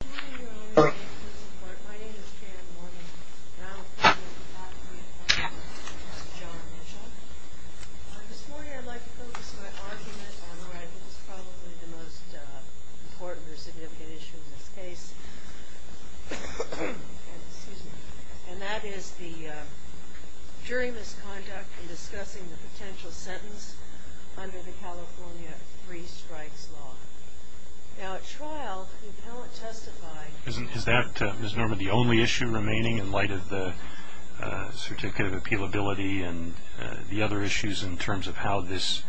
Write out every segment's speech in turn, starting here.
Good morning Your Honor, and thank you for your support. My name is Jan Mormon, and I'll be talking with Matthew and John Mitchell. This morning I'd like to focus my argument on what I think is probably the most important or significant issue in this case, and that is the, during this conduct, in discussing the potential sentence under the California Three Strikes Law. Now at trial, the appellant testified... Is that, Ms. Norman, the only issue remaining in light of the certificate of appealability and the other issues in terms of how this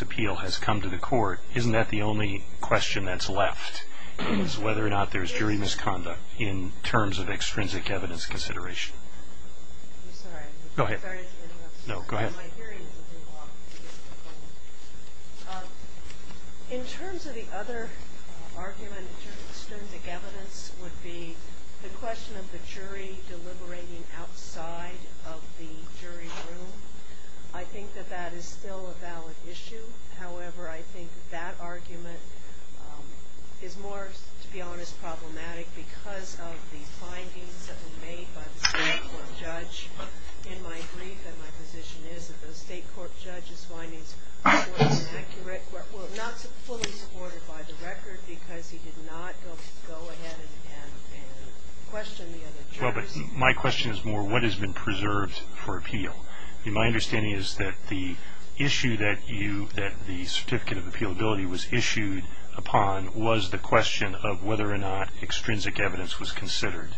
appeal has come to the court? Isn't that the only question that's left, is whether or not there's jury misconduct in terms of extrinsic evidence consideration? I'm sorry. Go ahead. I'm sorry to interrupt. No, go ahead. In terms of the other argument, extrinsic evidence would be the question of the jury deliberating outside of the jury room. I think that that is still a valid issue. However, I think that argument is more, to be honest, problematic because of the findings that were made by the state court judge. In my brief, my position is that the state court judge's findings were inaccurate, were not fully supported by the record because he did not go ahead and question the other jurors. Well, but my question is more what has been preserved for appeal. My understanding is that the issue that the certificate of appealability was issued upon was the question of whether or not extrinsic evidence was considered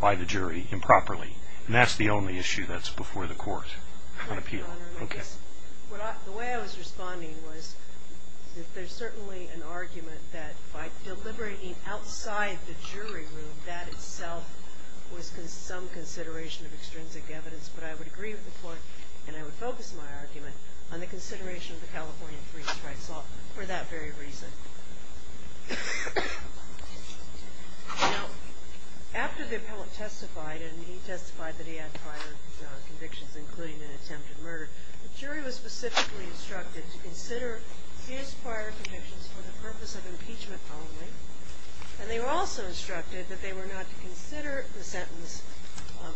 by the jury improperly. And that's the only issue that's before the court on appeal. Right, Your Honor. Okay. The way I was responding was that there's certainly an argument that by deliberating outside the jury room, that itself was some consideration of extrinsic evidence. But I would agree with the court, and I would focus my argument, on the consideration of the California three strikes law for that very reason. Now, after the appellate testified, and he testified that he had prior convictions, including an attempted murder, the jury was specifically instructed to consider his prior convictions for the purpose of impeachment only. And they were also instructed that they were not to consider the sentence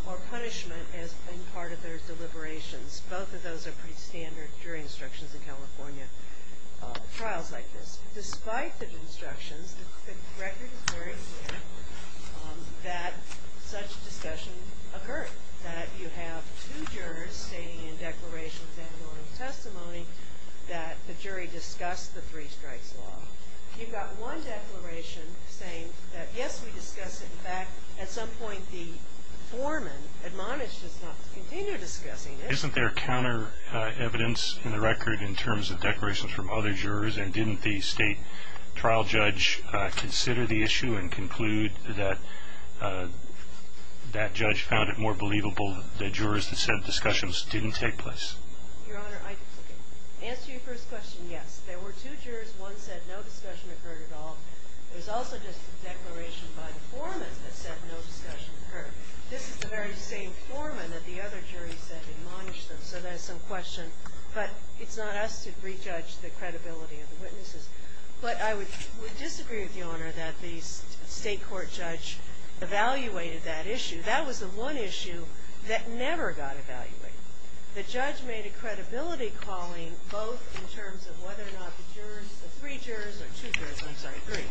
or punishment as being part of their deliberations. Both of those are pretty standard jury instructions in California trials like this. Despite the instructions, the record is very clear that such discussion occurred, that you have two jurors stating in declarations and on testimony that the jury discussed the three strikes law. You've got one declaration saying that, yes, we discussed it. In fact, at some point the foreman admonished us not to continue discussing it. Isn't there counter evidence in the record in terms of declarations from other jurors and didn't the state trial judge consider the issue and conclude that that judge found it more believable that jurors that said discussions didn't take place? Your Honor, I can answer your first question, yes. There were two jurors. One said no discussion occurred at all. There was also just a declaration by the foreman that said no discussion occurred. This is the very same foreman that the other jury said admonished them. So there's some question. But it's not us to re-judge the credibility of the witnesses. But I would disagree with you, Your Honor, that the state court judge evaluated that issue. That was the one issue that never got evaluated. The judge made a credibility calling both in terms of whether or not the jurors, the three jurors, or two jurors, I'm sorry, three,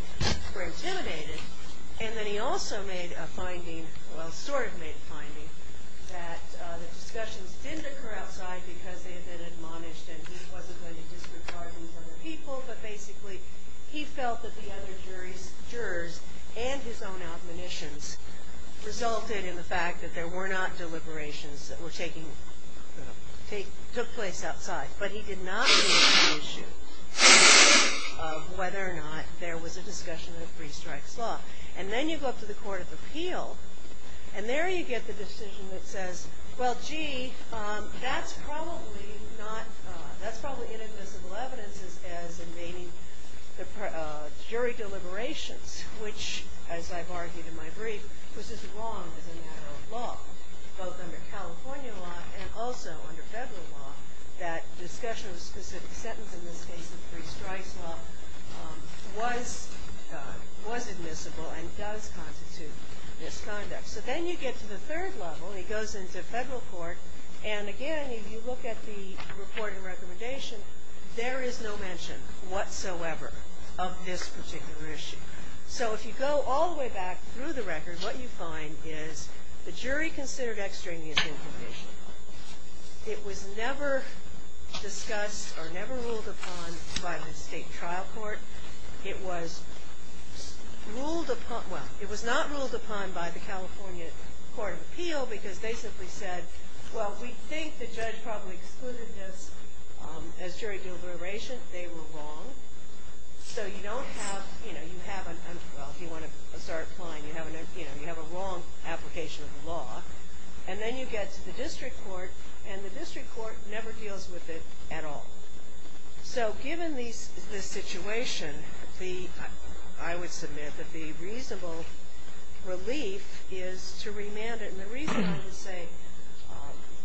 were intimidated. And then he also made a finding, well, sort of made a finding, that the discussions didn't occur outside because they had been admonished and he wasn't going to disregard these other people. But basically, he felt that the other jurors and his own admonitions resulted in the fact that there were not deliberations that took place outside. But he did not make the issue of whether or not there was a discussion of free strikes law. And then you go up to the Court of Appeal, and there you get the decision that says, well, gee, that's probably not, that's probably inadmissible evidence as invading jury deliberations, which, as I've argued in my brief, was as wrong as a matter of law, both under California law and also under federal law, that discussion of a specific sentence, in this case the free strikes law, was admissible and does constitute misconduct. So then you get to the third level. It goes into federal court. And again, if you look at the report and recommendation, there is no mention whatsoever of this particular issue. So if you go all the way back through the record, what you find is the jury considered extraneous information. It was never discussed or never ruled upon by the state trial court. It was ruled upon, well, it was not ruled upon by the California Court of Appeal because they simply said, well, we think the judge probably excluded this as jury deliberation. They were wrong. So you don't have, you know, you have an, well, if you want to start applying, you have a wrong application of the law. And then you get to the district court, and the district court never deals with it at all. So given this situation, I would submit that the reasonable relief is to remand it. And the reason I would say,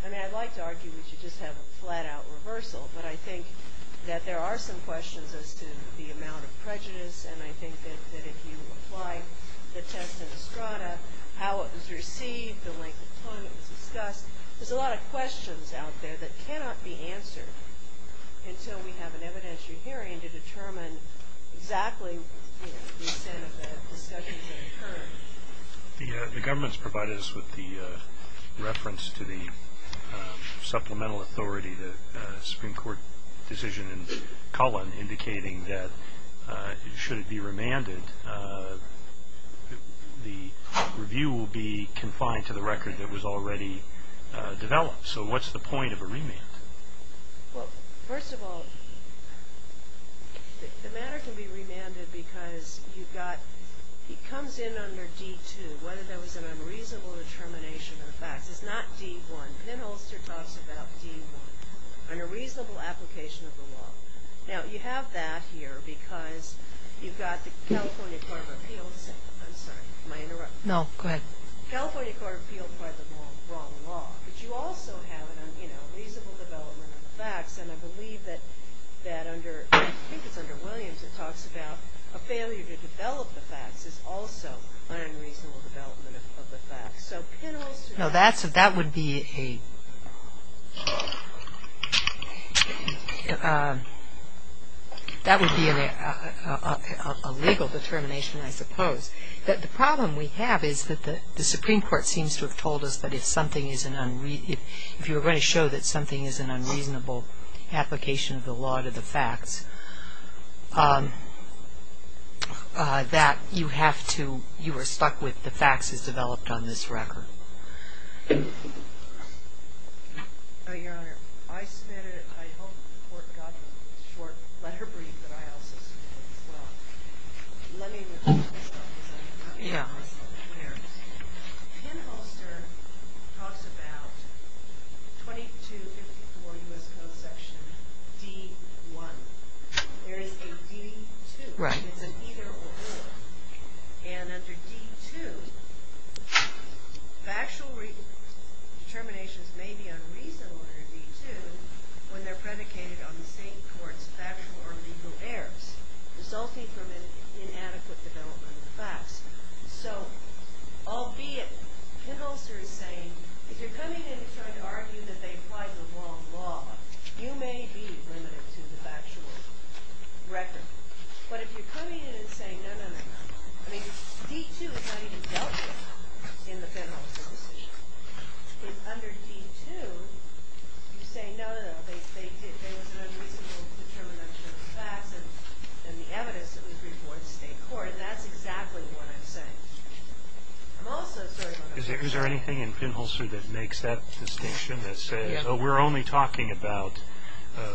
I mean, I'd like to argue we should just have a flat-out reversal, but I think that there are some questions as to the amount of prejudice, and I think that if you apply the test in Estrada, how it was received, the length of time it was discussed, there's a lot of questions out there that cannot be answered until we have an evidentiary hearing to determine exactly, you know, the extent of the discussion that occurred. The government's provided us with the reference to the supplemental authority, the Supreme Court decision in Cullen indicating that should it be remanded, the review will be confined to the record that was already developed. So what's the point of a remand? Well, first of all, the matter can be remanded because you've got, it comes in under D-2, whether there was an unreasonable determination of the facts. It's not D-1. Penholster talks about D-1, under reasonable application of the law. Now, you have that here because you've got the California Court of Appeals, I'm sorry, am I interrupting? No, go ahead. California Court of Appeals filed the wrong law, but you also have, you know, reasonable development of the facts, and I believe that under, I think it's under Williams, it talks about a failure to develop the facts is also an unreasonable development of the facts. So Penholster... No, that would be a legal determination, I suppose. The problem we have is that the Supreme Court seems to have told us that if something is an unreasonable, if you were going to show that something is an unreasonable application of the law to the facts, that you have to, you were stuck with the facts as developed on this record. Your Honor, I hope the Court got the short letter brief that I also submitted as well. Let me repeat myself. Penholster talks about 2254 U.S. Code Section D-1. There is a D-2. It's an either or. And under D-2, factual determinations may be unreasonable under D-2 when they're predicated on the State Court's factual or legal errors resulting from an inadequate development of the facts. So, albeit, Penholster is saying, if you're coming in to try to argue that they applied the wrong law, you may be limited to the factual record. But if you're coming in and saying, no, no, no, no, I mean, D-2 is not even dealt with in the Penholster decision. If under D-2, you say, no, no, no, there was an unreasonable determination of the facts and the evidence that was reported to the State Court, that's exactly what I'm saying. I'm also sorry about that. Is there anything in Penholster that makes that distinction? That says, oh, we're only talking about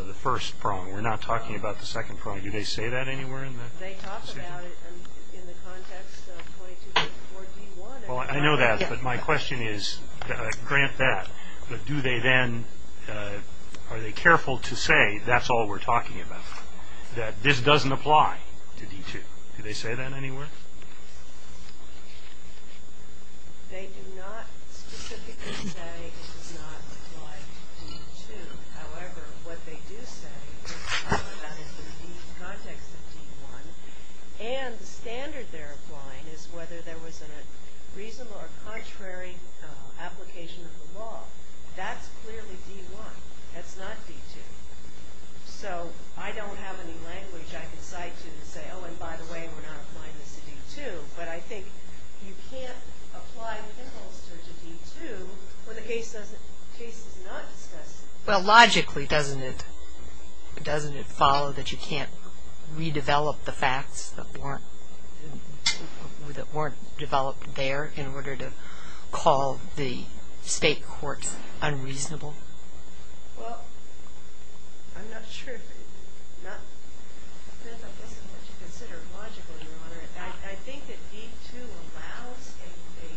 the first prong. We're not talking about the second prong. Do they say that anywhere in the decision? They talk about it in the context of 2254 D-1. Well, I know that, but my question is, grant that, but do they then, are they careful to say, that's all we're talking about, that this doesn't apply to D-2? Do they say that anywhere? They do not specifically say it does not apply to D-2. However, what they do say, they talk about it in the context of D-1, and the standard they're applying is whether there was a reasonable or contrary application of the law. That's clearly D-1. That's not D-2. So I don't have any language I can cite to say, oh, and by the way, we're not applying this to D-2, but I think you can't apply Penholster to D-2 when the case is not discussed. Well, logically, doesn't it follow that you can't redevelop the facts that weren't developed there in order to call the state courts unreasonable? Well, I'm not sure. Not that this is what you consider logical, Your Honor. I think that D-2 allows a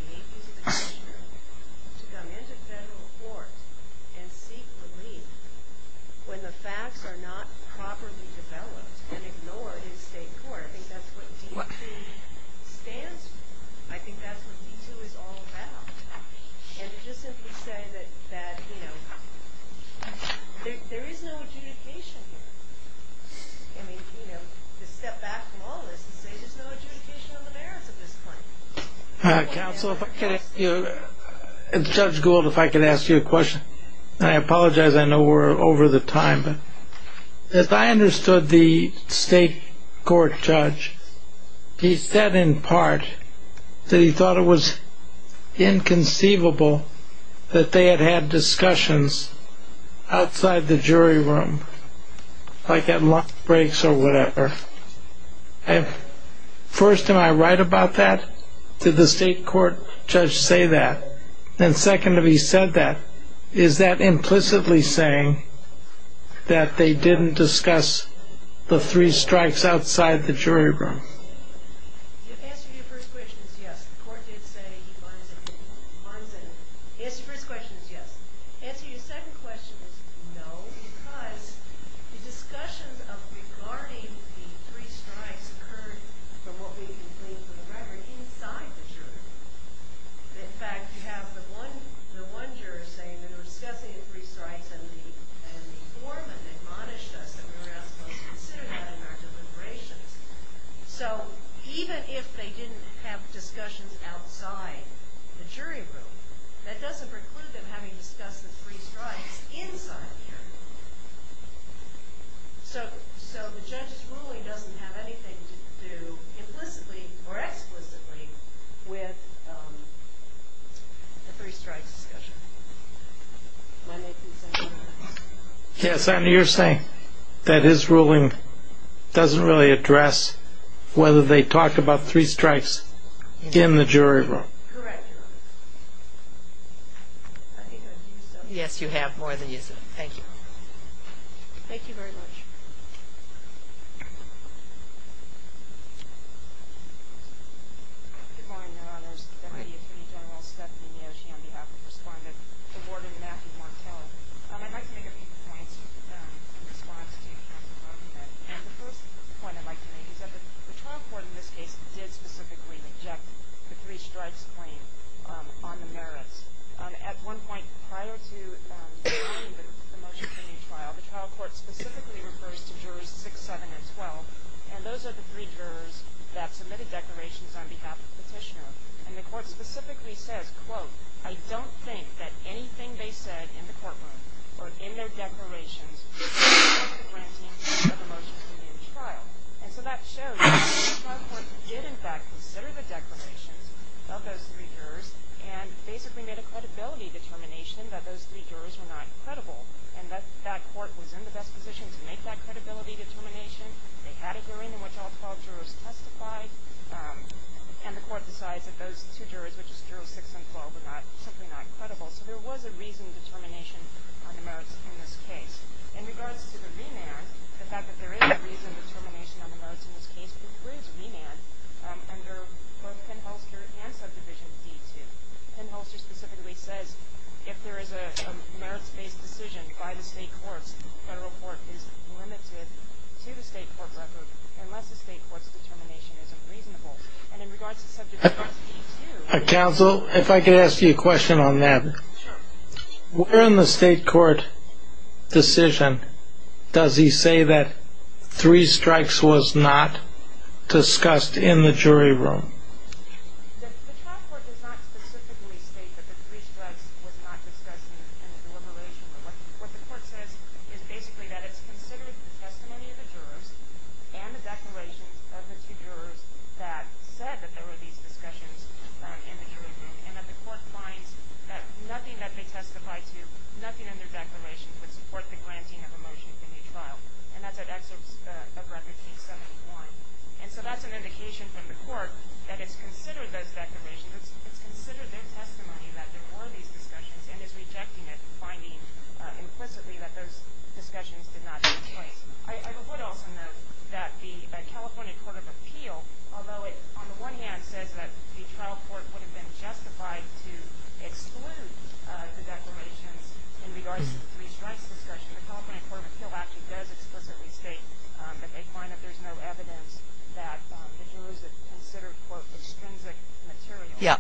native commissioner to come into federal court and seek relief when the facts are not properly developed and ignored in state court. I think that's what D-2 stands for. I think that's what D-2 is all about. And to just simply say that, you know, there is no adjudication here. I mean, you know, to step back from all this and say there's no adjudication on the merits of this claim. Counsel, if I could ask you, Judge Gould, if I could ask you a question. And I apologize, I know we're over the time, but if I understood the state court judge, he said in part that he thought it was inconceivable that they had had discussions outside the jury room, like at lunch breaks or whatever. First, am I right about that? Did the state court judge say that? And second, if he said that, is that implicitly saying that they didn't discuss the three strikes outside the jury room? The answer to your first question is yes. The court did say he finds it inconceivable. The answer to your first question is yes. The answer to your second question is no, because the discussions regarding the three strikes occurred from what we believe for the record inside the jury room. In fact, you have the one juror saying that they were discussing the three strikes and the foreman admonished us that we were not supposed to consider that in our deliberations. So even if they didn't have discussions outside the jury room, that doesn't preclude them having discussed the three strikes inside the jury room. So the judge's ruling doesn't have anything to do implicitly or explicitly with the three strikes discussion. May I make the same point? Yes, and you're saying that his ruling doesn't really address whether they talked about three strikes in the jury room. Correct, Your Honor. I think I've used up my time. Yes, you have more than you said. Thank you. Thank you very much. Good morning, Your Honors. Deputy Attorney General Stephanie Neoshi on behalf of Respondent, the Warden Matthew Martell. I'd like to make a few points in response to counsel's argument. The first point I'd like to make is that the trial court in this case did specifically reject the three strikes claim on the merits. At one point prior to signing the motion for a new trial, the trial court specifically refers to jurors 6, 7, and 12, and those are the three jurors that submitted declarations on behalf of the petitioner. And the court specifically says, quote, I don't think that anything they said in the courtroom or in their declarations is enough for granting the motion for a new trial. And so that shows that the trial court did, in fact, consider the declarations of those three jurors and basically made a credibility determination that those three jurors were not credible and that that court was in the best position to make that credibility determination. They had a hearing in which all 12 jurors testified, and the court decides that those two jurors, which is jurors 6 and 12, were simply not credible. So there was a reasoned determination on the merits in this case. In regards to the remand, the fact that there is a reasoned determination on the merits in this case includes remand under both Penn-Holster and Subdivision D-2. Penn-Holster specifically says if there is a merits-based decision by the state courts, this federal court is limited to the state court record unless the state court's determination is unreasonable. And in regards to Subdivision D-2... Counsel, if I could ask you a question on that. Sure. Where in the state court decision does he say that three strikes was not discussed in the jury room? The trial court does not specifically state that the three strikes was not discussed in the deliberation. What the court says is basically that it's considered the testimony of the jurors and the declarations of the two jurors that said that there were these discussions in the jury room, and that the court finds that nothing that they testified to, nothing in their declarations, would support the granting of a motion for a new trial. And that's at Excerpts of Record, P. 71. And so that's an indication from the court that it's considered those declarations, it's considered their testimony that there were these discussions, and is rejecting it, finding implicitly that those discussions did not take place. I would also note that the California Court of Appeal, although it, on the one hand, says that the trial court would have been justified to exclude the declarations in regards to the three strikes discussion, the California Court of Appeal actually does explicitly state that the jurors have considered, quote, Yeah,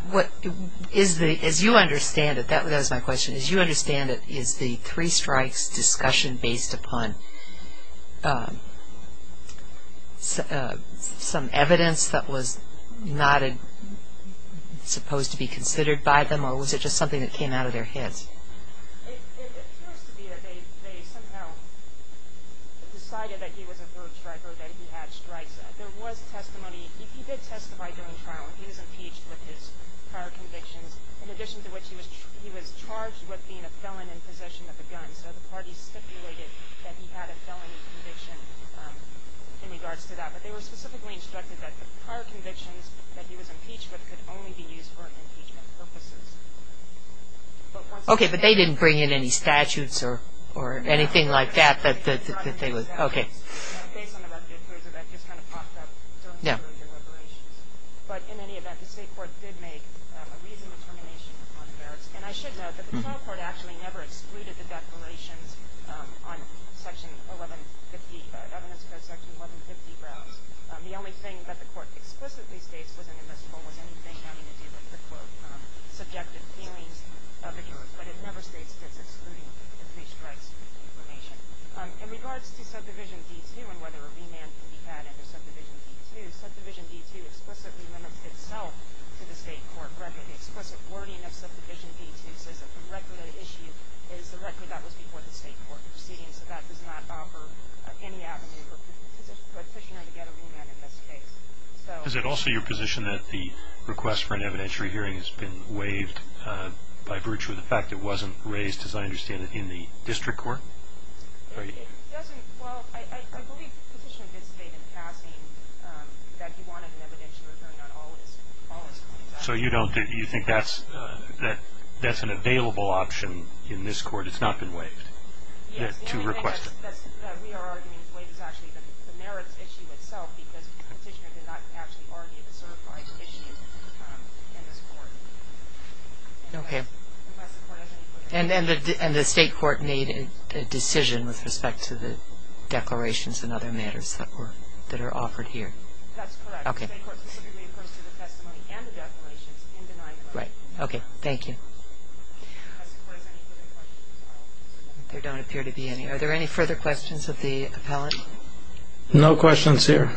as you understand it, that was my question, as you understand it, is the three strikes discussion based upon some evidence that was not supposed to be considered by them, or was it just something that came out of their heads? No, he was impeached with his prior convictions, in addition to which he was charged with being a felon in possession of a gun. So the party stipulated that he had a felony conviction in regards to that. But they were specifically instructed that the prior convictions that he was impeached with could only be used for impeachment purposes. Okay, but they didn't bring in any statutes or anything like that that they would, okay. Based on the record, that just kind of popped up. Yeah. But in any event, the state court did make a reasonable determination on merits, and I should note that the trial court actually never excluded the declarations on Section 1150, the evidence about Section 1150 grounds. The only thing that the court explicitly states wasn't in this rule was anything having to do with the court's subjective feelings of the jurors, but it never states that it's excluding the three strikes information. In regards to Subdivision D-2 and whether a remand can be had under Subdivision D-2, Subdivision D-2 explicitly limits itself to the state court record. The explicit wording of Subdivision D-2 says that the record at issue is the record that was before the state court proceeding, so that does not offer any avenue for a petitioner to get a remand in this case. Is it also your position that the request for an evidentiary hearing has been waived by virtue of the fact it wasn't raised, as I understand it, in the district court? Well, I believe Petitioner did state in passing that he wanted an evidentiary hearing on all his claims. So you think that's an available option in this court? It's not been waived to request it? Yes, the only thing that we are arguing is waived is actually the merits issue itself because Petitioner did not actually argue the certified issue in this court. Okay. And the state court made a decision with respect to the declarations and other matters that are offered here? That's correct. The state court specifically refers to the testimony and the declarations in denial. Right. Okay. Thank you. There don't appear to be any. Are there any further questions of the appellant? No questions here.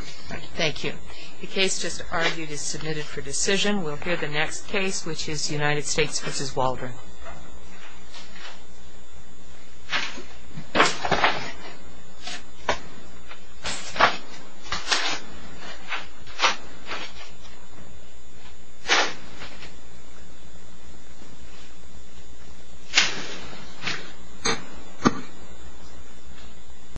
Thank you. The case just argued is submitted for decision. We'll hear the next case, which is United States v. Waldron.